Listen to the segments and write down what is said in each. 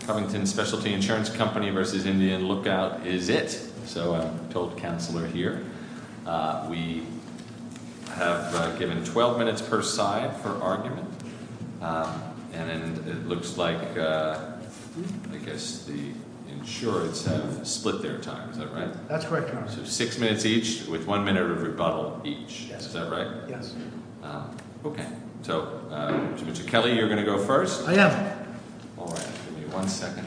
Covington Specialty Insurance Company v. Indian Lookout is it so I'm told counselor here we Have given 12 minutes per side for argument and it looks like I guess the Insurance have split their time. Is that right? That's correct. So six minutes each with one minute of rebuttal each. Is that right? Yes Okay, so Mr. Kelly you're gonna go first. I am Second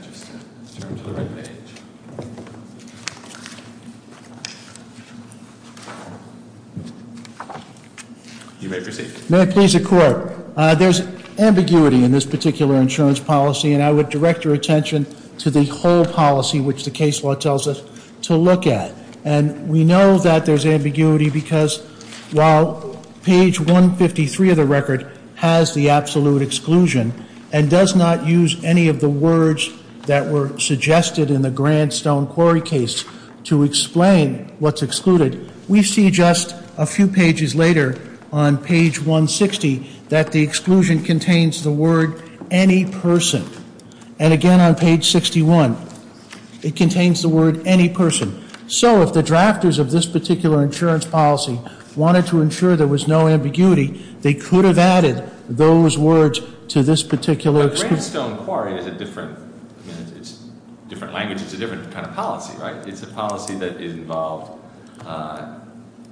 You may proceed. May I please the court? There's ambiguity in this particular insurance policy and I would direct your attention to the whole policy which the case law tells us to look at and we know that there's ambiguity because while page 153 of the record has the absolute exclusion and does not use any of the words that were Suggested in the grand stone quarry case to explain what's excluded We see just a few pages later on page 160 that the exclusion contains the word Any person and again on page 61 It contains the word any person so if the drafters of this particular insurance policy Wanted to ensure there was no ambiguity. They could have added those words to this particular Stone quarry is a different Different language. It's a different kind of policy, right? It's a policy that is involved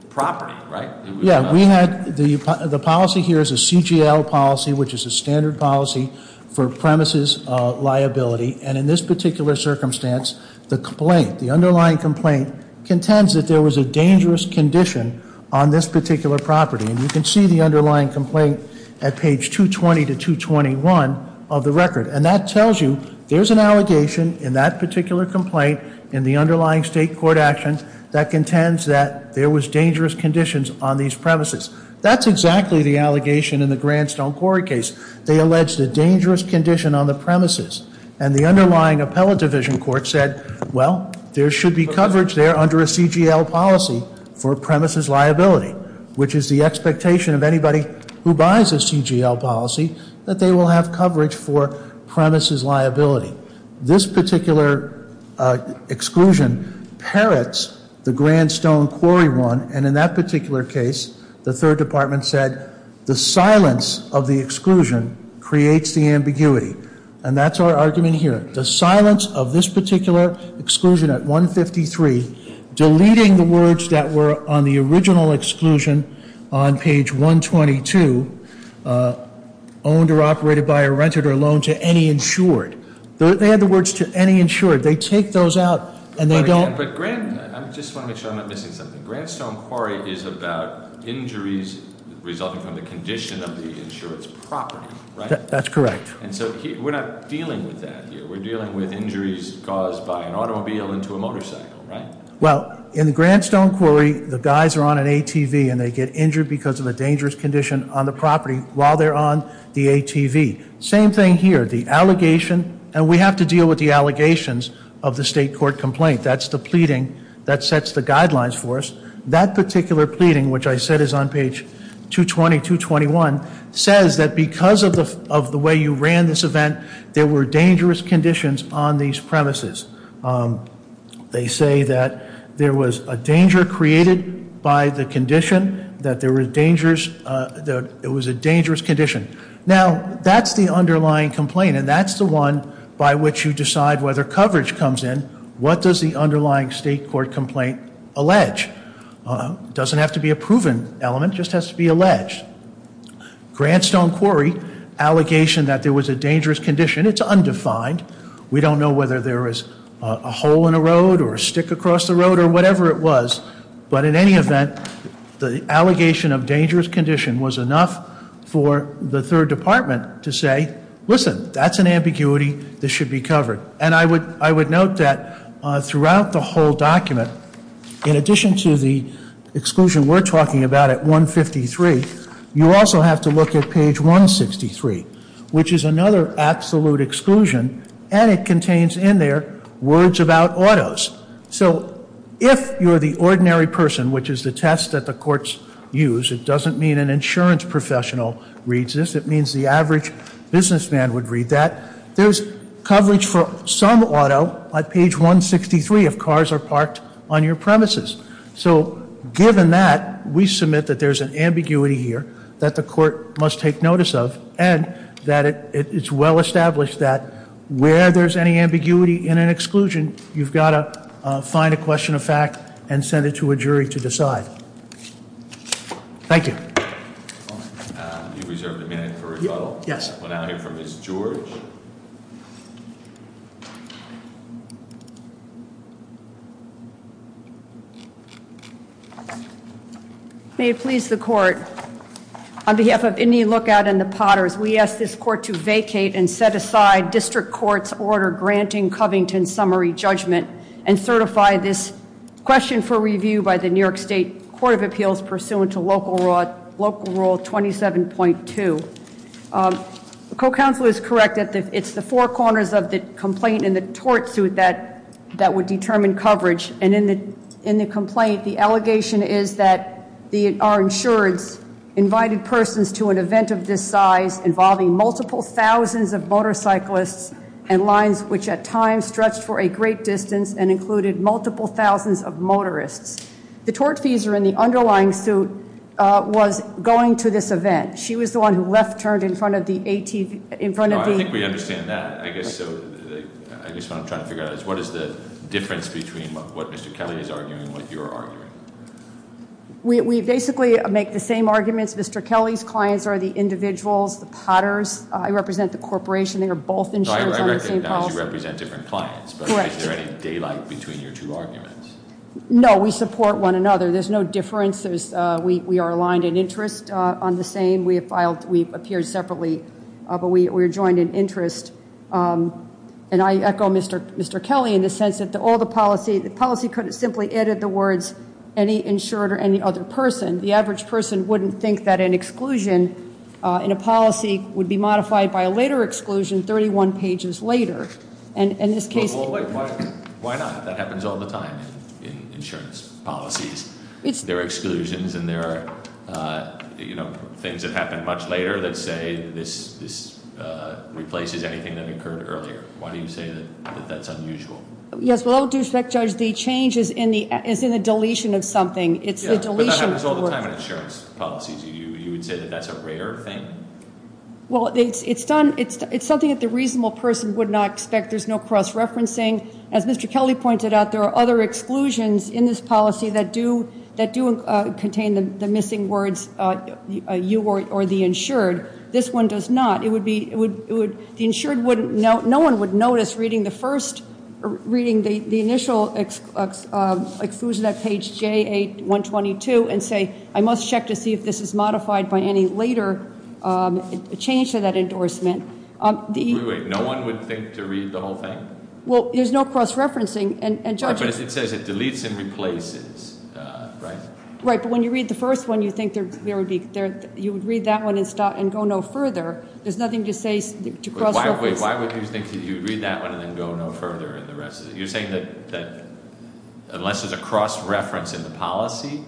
Property right? Yeah, we had the the policy here is a CGL policy, which is a standard policy for premises Liability and in this particular circumstance the complaint the underlying complaint contends that there was a dangerous condition On this particular property and you can see the underlying complaint at page 220 to 221 of the record and that tells you there's an allegation in that particular complaint in the underlying state court action That contends that there was dangerous conditions on these premises. That's exactly the allegation in the grand stone quarry case They alleged a dangerous condition on the premises and the underlying appellate division court said well There should be coverage there under a CGL policy for premises liability Which is the expectation of anybody who buys a CGL policy that they will have coverage for premises liability this particular Exclusion parrots the grand stone quarry one and in that particular case the third department said the silence of the Exclusion creates the ambiguity and that's our argument here the silence of this particular exclusion at 153 Deleting the words that were on the original exclusion on page 122 Owned or operated by a rented or loan to any insured They had the words to any insured they take those out and they don't but grant I'm just one of the show not missing something grand stone quarry is about injuries Resulting from the condition of the insurance property, right? That's correct. And so we're not dealing with that here We're dealing with injuries caused by an automobile into a motorcycle, right? well in the grand stone quarry The guys are on an ATV and they get injured because of a dangerous condition on the property while they're on the ATV Same thing here the allegation and we have to deal with the allegations of the state court complaint That's the pleading that sets the guidelines for us that particular pleading which I said is on page 220 221 says that because of the of the way you ran this event there were dangerous conditions on these premises They say that there was a danger created by the condition that there were dangers That it was a dangerous condition now That's the underlying complaint and that's the one by which you decide whether coverage comes in What does the underlying state court complaint allege? Doesn't have to be a proven element just has to be alleged grand stone quarry Allegation that there was a dangerous condition. It's undefined We don't know whether there is a hole in a road or a stick across the road or whatever it was But in any event the allegation of dangerous condition was enough for the third department to say Listen, that's an ambiguity. This should be covered and I would I would note that Throughout the whole document in addition to the exclusion we're talking about at 153 you also have to look at page 163 which is another absolute exclusion and it contains in their words about autos So if you're the ordinary person, which is the test that the courts use it doesn't mean an insurance professional Reads this it means the average Businessman would read that there's coverage for some auto at page 163 if cars are parked on your premises so given that we submit that there's an ambiguity here that the court must take notice of and That it's well established that where there's any ambiguity in an exclusion You've got to find a question of fact and send it to a jury to decide Thank you You reserved a minute for rebuttal? Yes. We'll now hear from Ms. George May it please the court On behalf of Indian Lookout and the Potters We ask this court to vacate and set aside district courts order granting Covington summary judgment and certify this 27.2 Co-counselor is correct at the it's the four corners of the complaint in the tort suit that That would determine coverage and in the in the complaint. The allegation is that the our insurance invited persons to an event of this size involving multiple thousands of Motorcyclists and lines which at times stretched for a great distance and included multiple thousands of motorists The tort fees are in the underlying suit Was going to this event. She was the one who left turned in front of the ATV in front of me I think we understand that I guess so I guess what I'm trying to figure out is what is the difference between what Mr. Kelly is arguing what you're arguing? We basically make the same arguments. Mr. Kelly's clients are the individuals the Potters. I represent the corporation. They are both in Represent different clients Like between your two arguments No, we support one another there's no difference. There's we are aligned in interest on the same We have filed we've appeared separately, but we were joined in interest And I echo. Mr Mr Kelly in the sense that the all the policy the policy could have simply added the words any Insured or any other person the average person wouldn't think that an exclusion In a policy would be modified by a later exclusion 31 pages later And in this case Why not that happens all the time in insurance policies? It's their exclusions and there are You know things that happen much later. Let's say this this Replaces anything that occurred earlier. Why do you say that that's unusual? Yes, well, I'll do spec judge the changes in the is in the deletion of something. It's the deletion There's all the time in insurance policies you you would say that that's a rare thing Well, it's it's done it's it's something that the reasonable person would not expect there's no cross-referencing as mr Kelly pointed out there are other exclusions in this policy that do that do contain the missing words You or the insured this one does not it would be it would the insured wouldn't know no one would notice reading the first reading the the initial Exclusion that page j8 122 and say I must check to see if this is modified by any later change to that endorsement The way no one would think to read the whole thing. Well, there's no cross-referencing and judges. It says it deletes and replaces Right, right But when you read the first one you think there would be there you would read that one and stop and go no further There's nothing to say to cross. Why would you think that you read that one and then go no further and the rest of it you're saying that Unless there's a cross-reference in the policy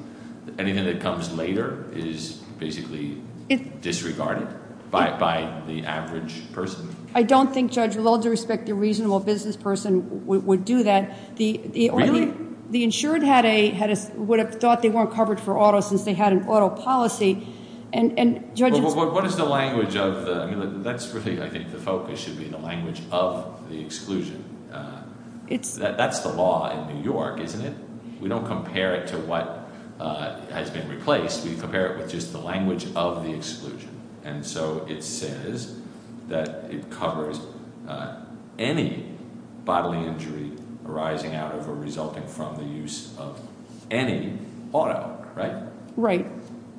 Anything that comes later is basically it disregarded By by the average person. I don't think judge with all due respect the reasonable business person would do that the the only the insured had a had a would have thought they weren't covered for auto since they had an auto policy and And judge what is the language of the that's really I think the focus should be the language of the exclusion It's that's the law in New York, isn't it? We don't compare it to what? Has been replaced we compare it with just the language of the exclusion and so it says that it covers any Bodily injury arising out of or resulting from the use of any auto, right? Right,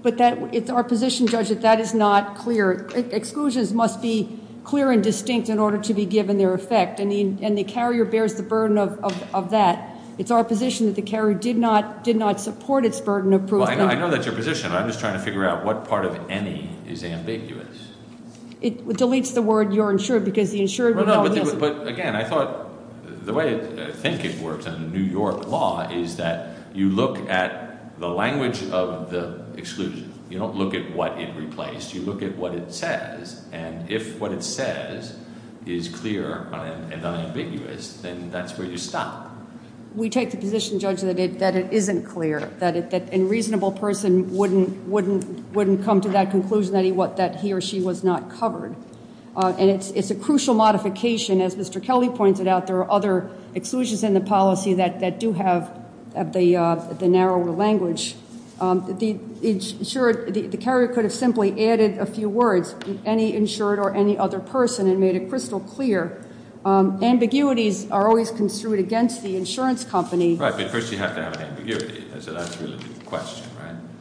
but that it's our position judge that that is not clear Exclusions must be clear and distinct in order to be given their effect. I mean and the carrier bears the burden of that It's our position that the carrier did not did not support its burden of proof. I know that's your position I'm just trying to figure out what part of any is ambiguous It deletes the word you're insured because the insured Again, I thought the way I think it works in New York law Is that you look at the language of the exclusion? You don't look at what it replaced you look at what it says and if what it says is Clear and unambiguous then that's where you stop We take the position judge that it that it isn't clear that it that in reasonable person wouldn't wouldn't wouldn't come to that conclusion That he what that he or she was not covered and it's it's a crucial modification as mr Kelly pointed out there are other exclusions in the policy that that do have the the narrower language The insured the carrier could have simply added a few words any insured or any other person and made it crystal clear Ambiguities are always construed against the insurance company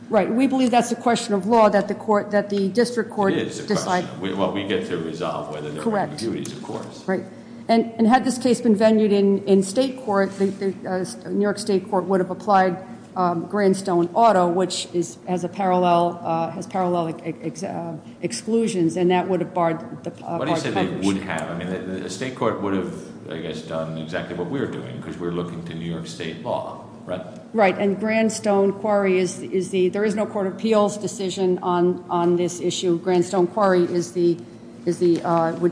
Right, we believe that's the question of law that the court that the district court is What we get to resolve whether the right duties, of course, right and and had this case been venued in in state court The New York State Court would have applied Grandstone Auto, which is as a parallel has parallel Exclusions and that would have barred State court would have I guess done exactly what we're doing because we're looking to New York State law Right and Grandstone quarry is is the there is no Court of Appeals decision on on this issue Grandstone quarry is the is the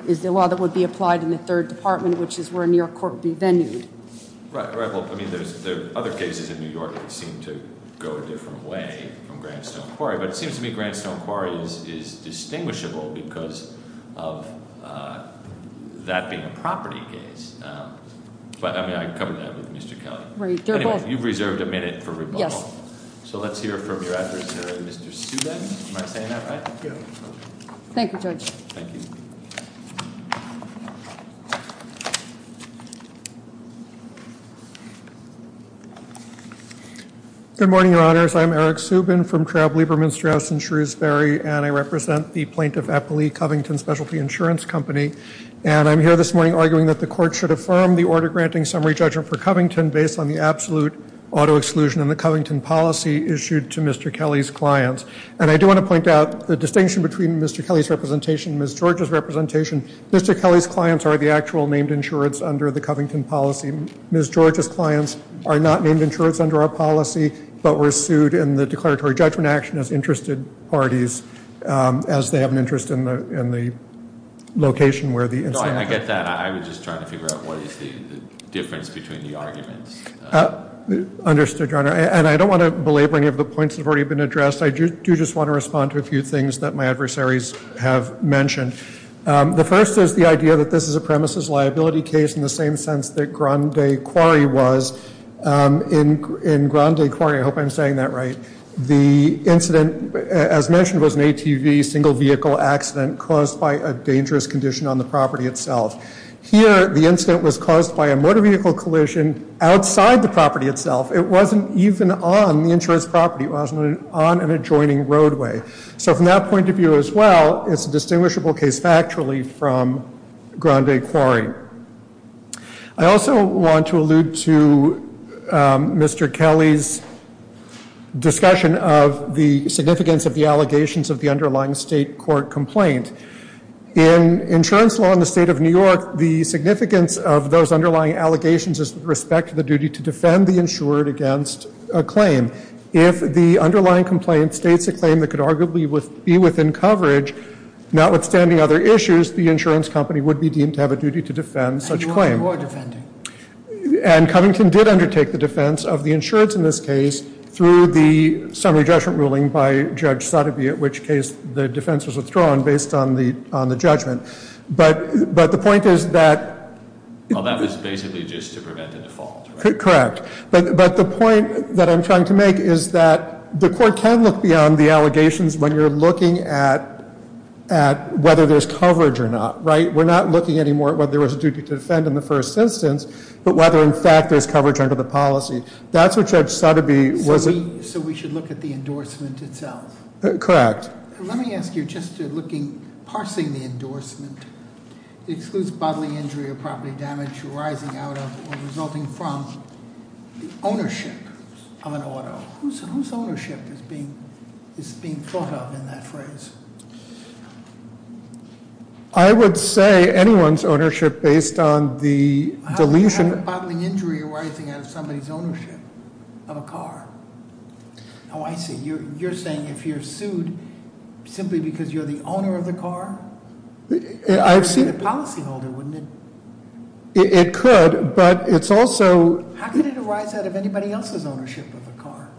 is the law that would be applied in the third department, which is where a New York Court Be venue Other cases in New York seem to go a different way from Grandstone quarry, but it seems to me Grandstone quarry is is distinguishable because of That being a property case But I mean I covered that with mr. Kelly. You've reserved a minute for yes. So let's hear from your address Thank you judge Good Morning your honors. I'm Eric Subin from Trab Lieberman Strauss and Shrewsbury and I represent the plaintiff Eppley Covington specialty insurance company And I'm here this morning arguing that the court should affirm the order granting summary judgment for Covington based on the absolute Auto exclusion and the Covington policy issued to mr. Kelly's clients and I do want to point out the distinction between mr Kelly's representation miss George's representation. Mr. Kelly's clients are the actual named insurance under the Covington policy Miss George's clients are not named insurance under our policy, but we're sued in the declaratory judgment action as interested parties as they have an interest in the Location where the I get that I was just trying to figure out what is the difference between the arguments? Understood your honor and I don't want to belabor any of the points have already been addressed I do just want to respond to a few things that my adversaries have mentioned The first is the idea that this is a premises liability case in the same sense that Grande quarry was In in Grande quarry. I hope I'm saying that right the incident as mentioned was an ATV single-vehicle Accident caused by a dangerous condition on the property itself here. The incident was caused by a motor vehicle collision Outside the property itself. It wasn't even on the insurance property wasn't on an adjoining roadway So from that point of view as well, it's a distinguishable case factually from Grande quarry, I also want to allude to Mr. Kelly's Discussion of the significance of the allegations of the underlying state court complaint in insurance law in the state of New York the significance of those underlying allegations is respect the duty to defend the insured against a With be within coverage notwithstanding other issues the insurance company would be deemed to have a duty to defend such claim And Covington did undertake the defense of the insurance in this case through the summary judgment ruling by Judge Sotopi At which case the defense was withdrawn based on the on the judgment, but but the point is that That was basically just to prevent the default Correct, but but the point that I'm trying to make is that the court can look beyond the allegations when you're looking at At whether there's coverage or not, right? We're not looking anymore whether there was a duty to defend in the first instance, but whether in fact there's coverage under the policy That's what judge Sotopi wasn't so we should look at the endorsement itself Correct. Let me ask you just looking parsing the endorsement Excludes bodily injury or property damage arising out of or resulting from Ownership of an auto. Whose ownership is being is being thought of in that phrase? I would say anyone's ownership based on the deletion How can you have a bodily injury arising out of somebody's ownership of a car? Oh, I see you're saying if you're sued Simply because you're the owner of the car I've seen a policyholder wouldn't it? It could but it's also how can it arise out of anybody else's ownership of the car?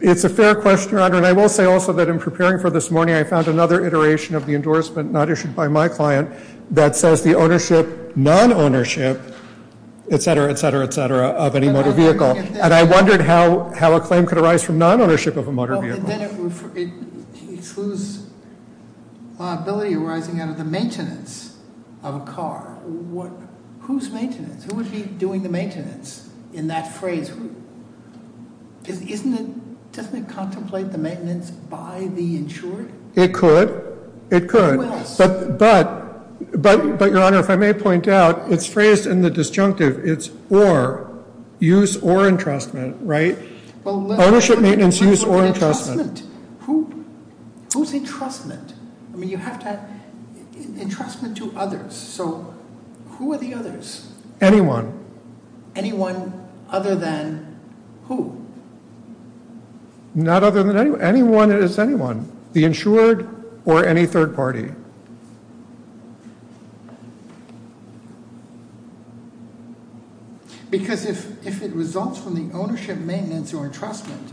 It's a fair question, your honor, and I will say also that in preparing for this morning I found another iteration of the endorsement not issued by my client that says the ownership non-ownership Etc. Etc. Etc. Of any motor vehicle and I wondered how how a claim could arise from non-ownership of a motor vehicle It excludes Ability arising out of the maintenance of a car what whose maintenance who would be doing the maintenance in that phrase? Isn't it doesn't it contemplate the maintenance by the insurer it could it could but but But but your honor if I may point out it's phrased in the disjunctive. It's or Use or entrustment, right? Ownership maintenance use or entrustment Who's entrustment? I mean you have to Entrustment to others. So who are the others anyone anyone other than who? Not other than anyone that is anyone the insured or any third party Because If it results from the ownership maintenance or entrustment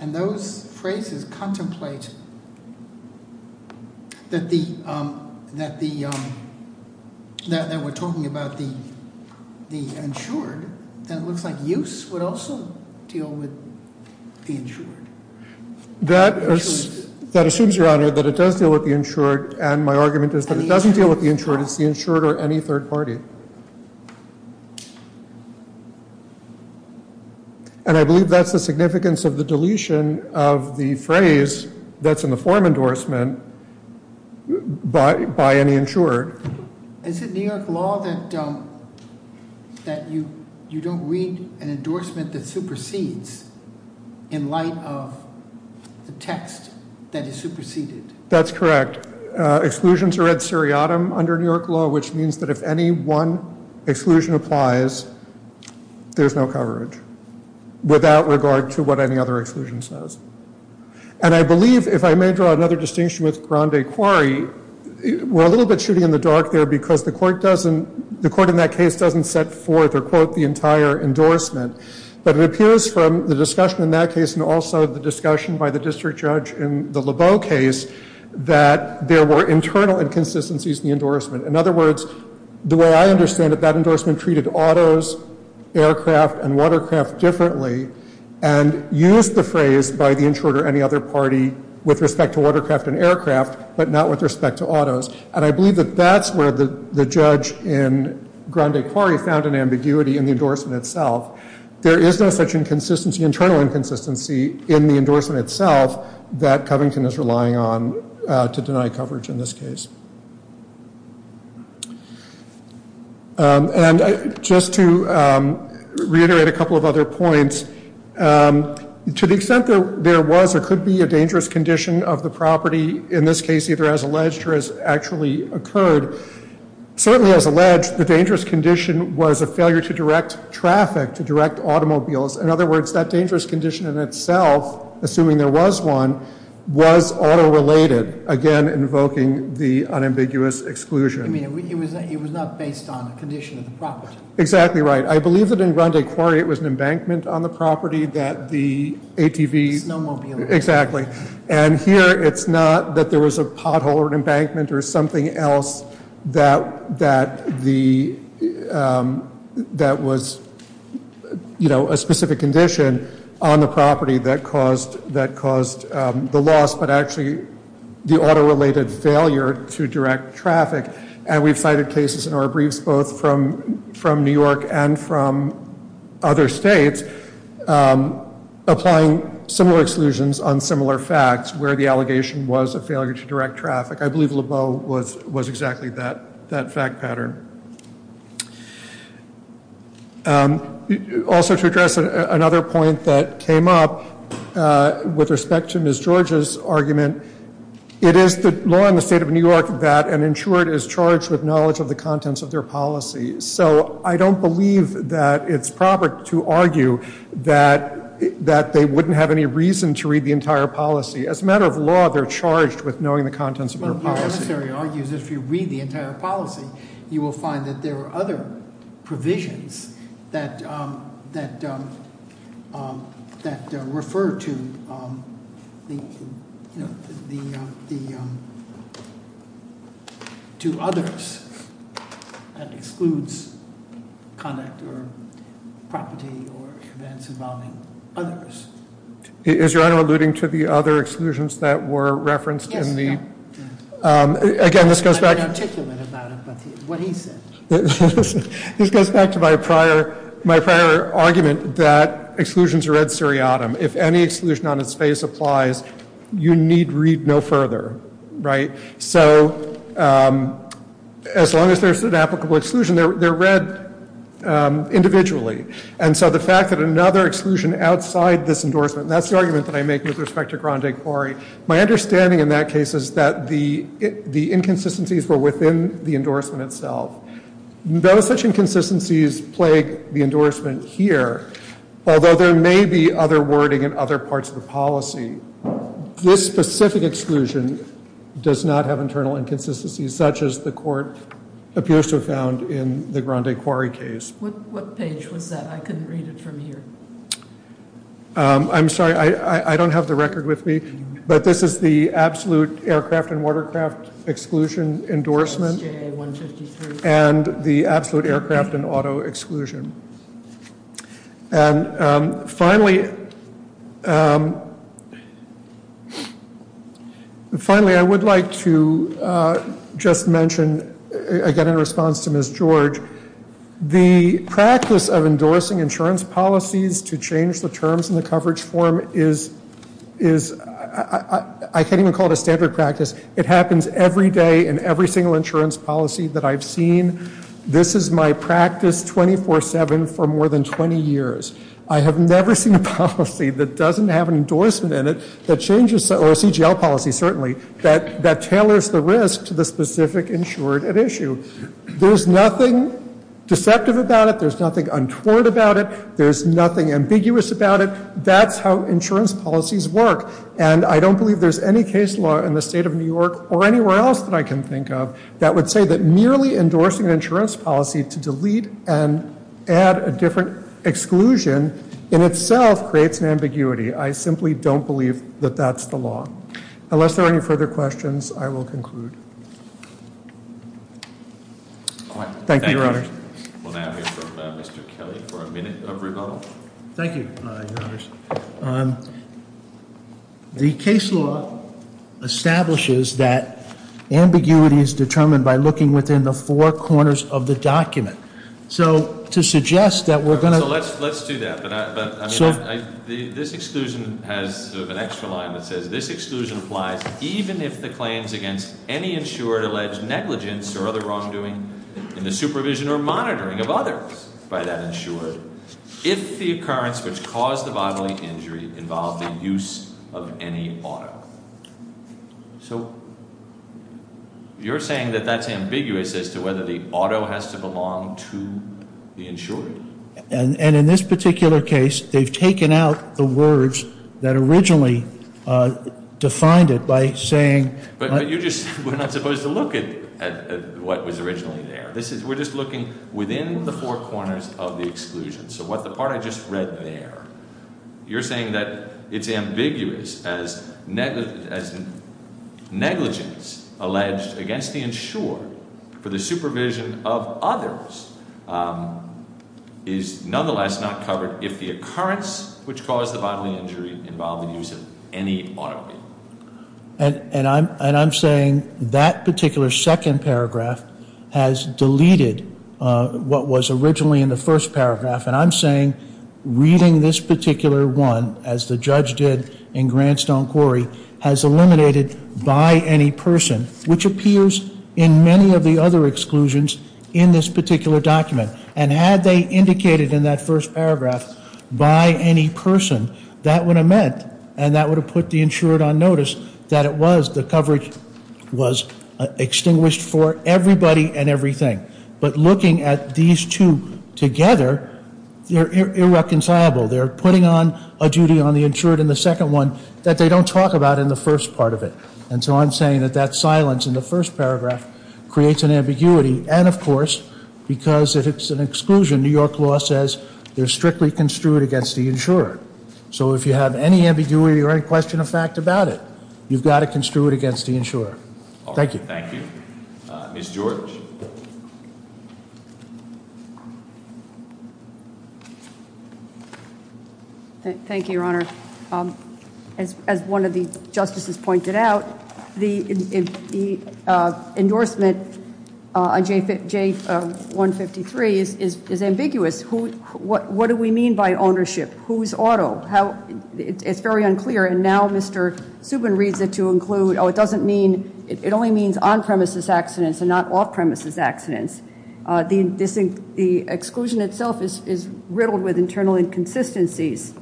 and those phrases contemplate That the that the That we're talking about the the insured that looks like use would also deal with the insured That That assumes your honor that it does deal with the insured and my argument is that it doesn't deal with the insurance the insured or any third party And I believe that's the significance of the deletion of the phrase that's in the form endorsement But by any insured is it New York law that? That you you don't read an endorsement that supersedes in The text that is superseded, that's correct Exclusions are at seriatim under New York law, which means that if any one exclusion applies There's no coverage Without regard to what any other exclusion says and I believe if I may draw another distinction with Grande quarry We're a little bit shooting in the dark there because the court doesn't the court in that case doesn't set forth or quote the entire Endorsement but it appears from the discussion in that case and also the discussion by the district judge in the labo case That there were internal inconsistencies in the endorsement. In other words the way I understand that that endorsement treated autos aircraft and watercraft differently and Use the phrase by the insured or any other party with respect to watercraft and aircraft but not with respect to autos and I believe that that's where the the judge in Grande quarry found an ambiguity in the endorsement itself There is no such inconsistency internal inconsistency in the endorsement itself that Covington is relying on to deny coverage in this case And just to reiterate a couple of other points To the extent that there was or could be a dangerous condition of the property in this case either as alleged or as actually occurred Certainly as alleged the dangerous condition was a failure to direct traffic to direct automobiles in other words that dangerous condition in itself Assuming there was one was auto related again invoking the unambiguous exclusion Exactly right. I believe that in Grande quarry it was an embankment on the property that the ATV Exactly and here it's not that there was a pothole or an embankment or something else that that the That was You know a specific condition on the property that caused that caused the loss But actually the auto related failure to direct traffic and we've cited cases in our briefs both from from New York and from other states Applying similar exclusions on similar facts where the allegation was a failure to direct traffic I believe Lebeau was was exactly that that fact pattern Also to address another point that came up With respect to Miss George's argument It is the law in the state of New York that an insured is charged with knowledge of the contents of their policy So I don't believe that it's proper to argue that That they wouldn't have any reason to read the entire policy as a matter of law They're charged with knowing the contents of my policy argues if you read the entire policy, you will find that there are other provisions that that That refer to You know To others that excludes Is your honor alluding to the other exclusions that were referenced in the Again, this goes back This goes back to my prior my prior argument that Exclusions are read seriatim. If any exclusion on its face applies, you need read no further, right? So As long as there's an applicable exclusion there they're read Individually and so the fact that another exclusion outside this endorsement that's the argument that I make with respect to grande quarry my understanding in that case is that the The inconsistencies were within the endorsement itself Those such inconsistencies plague the endorsement here, although there may be other wording and other parts of the policy This specific exclusion Does not have internal inconsistencies such as the court Appears to have found in the grande quarry case I'm sorry. I I don't have the record with me, but this is the absolute aircraft and watercraft exclusion endorsement And the absolute aircraft and auto exclusion and Finally Finally I would like to Just mention again in response to miss George the practice of endorsing insurance policies to change the terms in the coverage form is is I That I've seen this is my practice 24-7 for more than 20 years I have never seen a policy that doesn't have an endorsement in it that changes or a CGL policy Certainly that that tailors the risk to the specific insured an issue. There's nothing Deceptive about it. There's nothing untoward about it. There's nothing ambiguous about it That's how insurance policies work And I don't believe there's any case law in the state of New York or anywhere else that I can think of That would say that merely endorsing an insurance policy to delete and add a different Exclusion in itself creates an ambiguity. I simply don't believe that that's the law unless there are any further questions. I will conclude Thank you Thank you The case law establishes that Ambiguity is determined by looking within the four corners of the document. So to suggest that we're going to let's let's do that This exclusion has an extra line that says this exclusion applies Even if the claims against any insured alleged negligence or other wrongdoing in the supervision or monitoring of others by that insured If the occurrence which caused the bodily injury involved the use of any auto so You're saying that that's ambiguous as to whether the auto has to belong to The insured and and in this particular case, they've taken out the words that originally Defined it by saying but you just we're not supposed to look at What was originally there? This is we're just looking within the four corners of the exclusion. So what the part I just read there you're saying that it's ambiguous as negligent as Against the insured for the supervision of others Is nonetheless not covered if the occurrence which caused the bodily injury involved the use of any auto And and I'm and I'm saying that particular second paragraph has deleted What was originally in the first paragraph and I'm saying? Reading this particular one as the judge did in Grand Stone Quarry has eliminated By any person which appears in many of the other exclusions in this particular document and had they Indicated in that first paragraph by any person that would have meant and that would have put the insured on notice that it was the coverage was Extinguished for everybody and everything but looking at these two together They're irreconcilable They're putting on a duty on the insured in the second one that they don't talk about in the first part of it And so I'm saying that that silence in the first paragraph Creates an ambiguity and of course because if it's an exclusion New York law says they're strictly construed against the insurer So if you have any ambiguity or any question of fact about it, you've got to construe it against the insurer. Thank you Thank you Miss George Thank You your honor as one of the justices pointed out the Endorsement on J153 is is ambiguous. Who what what do we mean by ownership? Who's auto? How it's very unclear and now mr Subin reads it to include. Oh, it doesn't mean it only means on-premises accidents and not off-premises accidents The distinct the exclusion itself is riddled with internal inconsistencies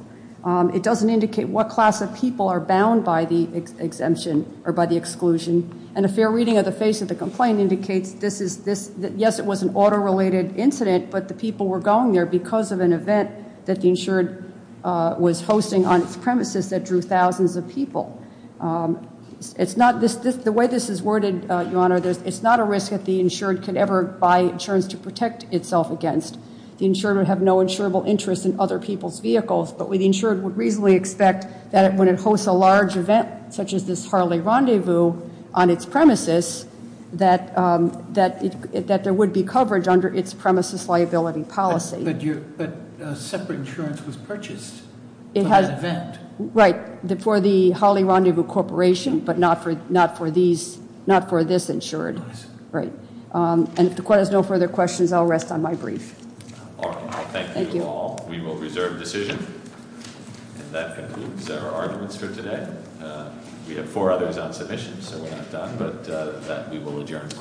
it doesn't indicate what class of people are bound by the Exemption or by the exclusion and a fair reading of the face of the complaint indicates this is this that yes It was an auto related incident, but the people were going there because of an event that the insured Was hosting on its premises that drew thousands of people It's not this the way this is worded your honor There's it's not a risk that the insured could ever buy insurance to protect itself against the insurer would have no insurable interest in other People's vehicles, but we the insured would reasonably expect that it when it hosts a large event such as this Harley rendezvous on its premises That that it that there would be coverage under its premises liability policy Separate insurance was purchased it has event right the for the holly rendezvous corporation But not for not for these not for this insured right and the court has no further questions. I'll rest on my brief We will reserve decision We have four others on submissions, but we will adjourn the court You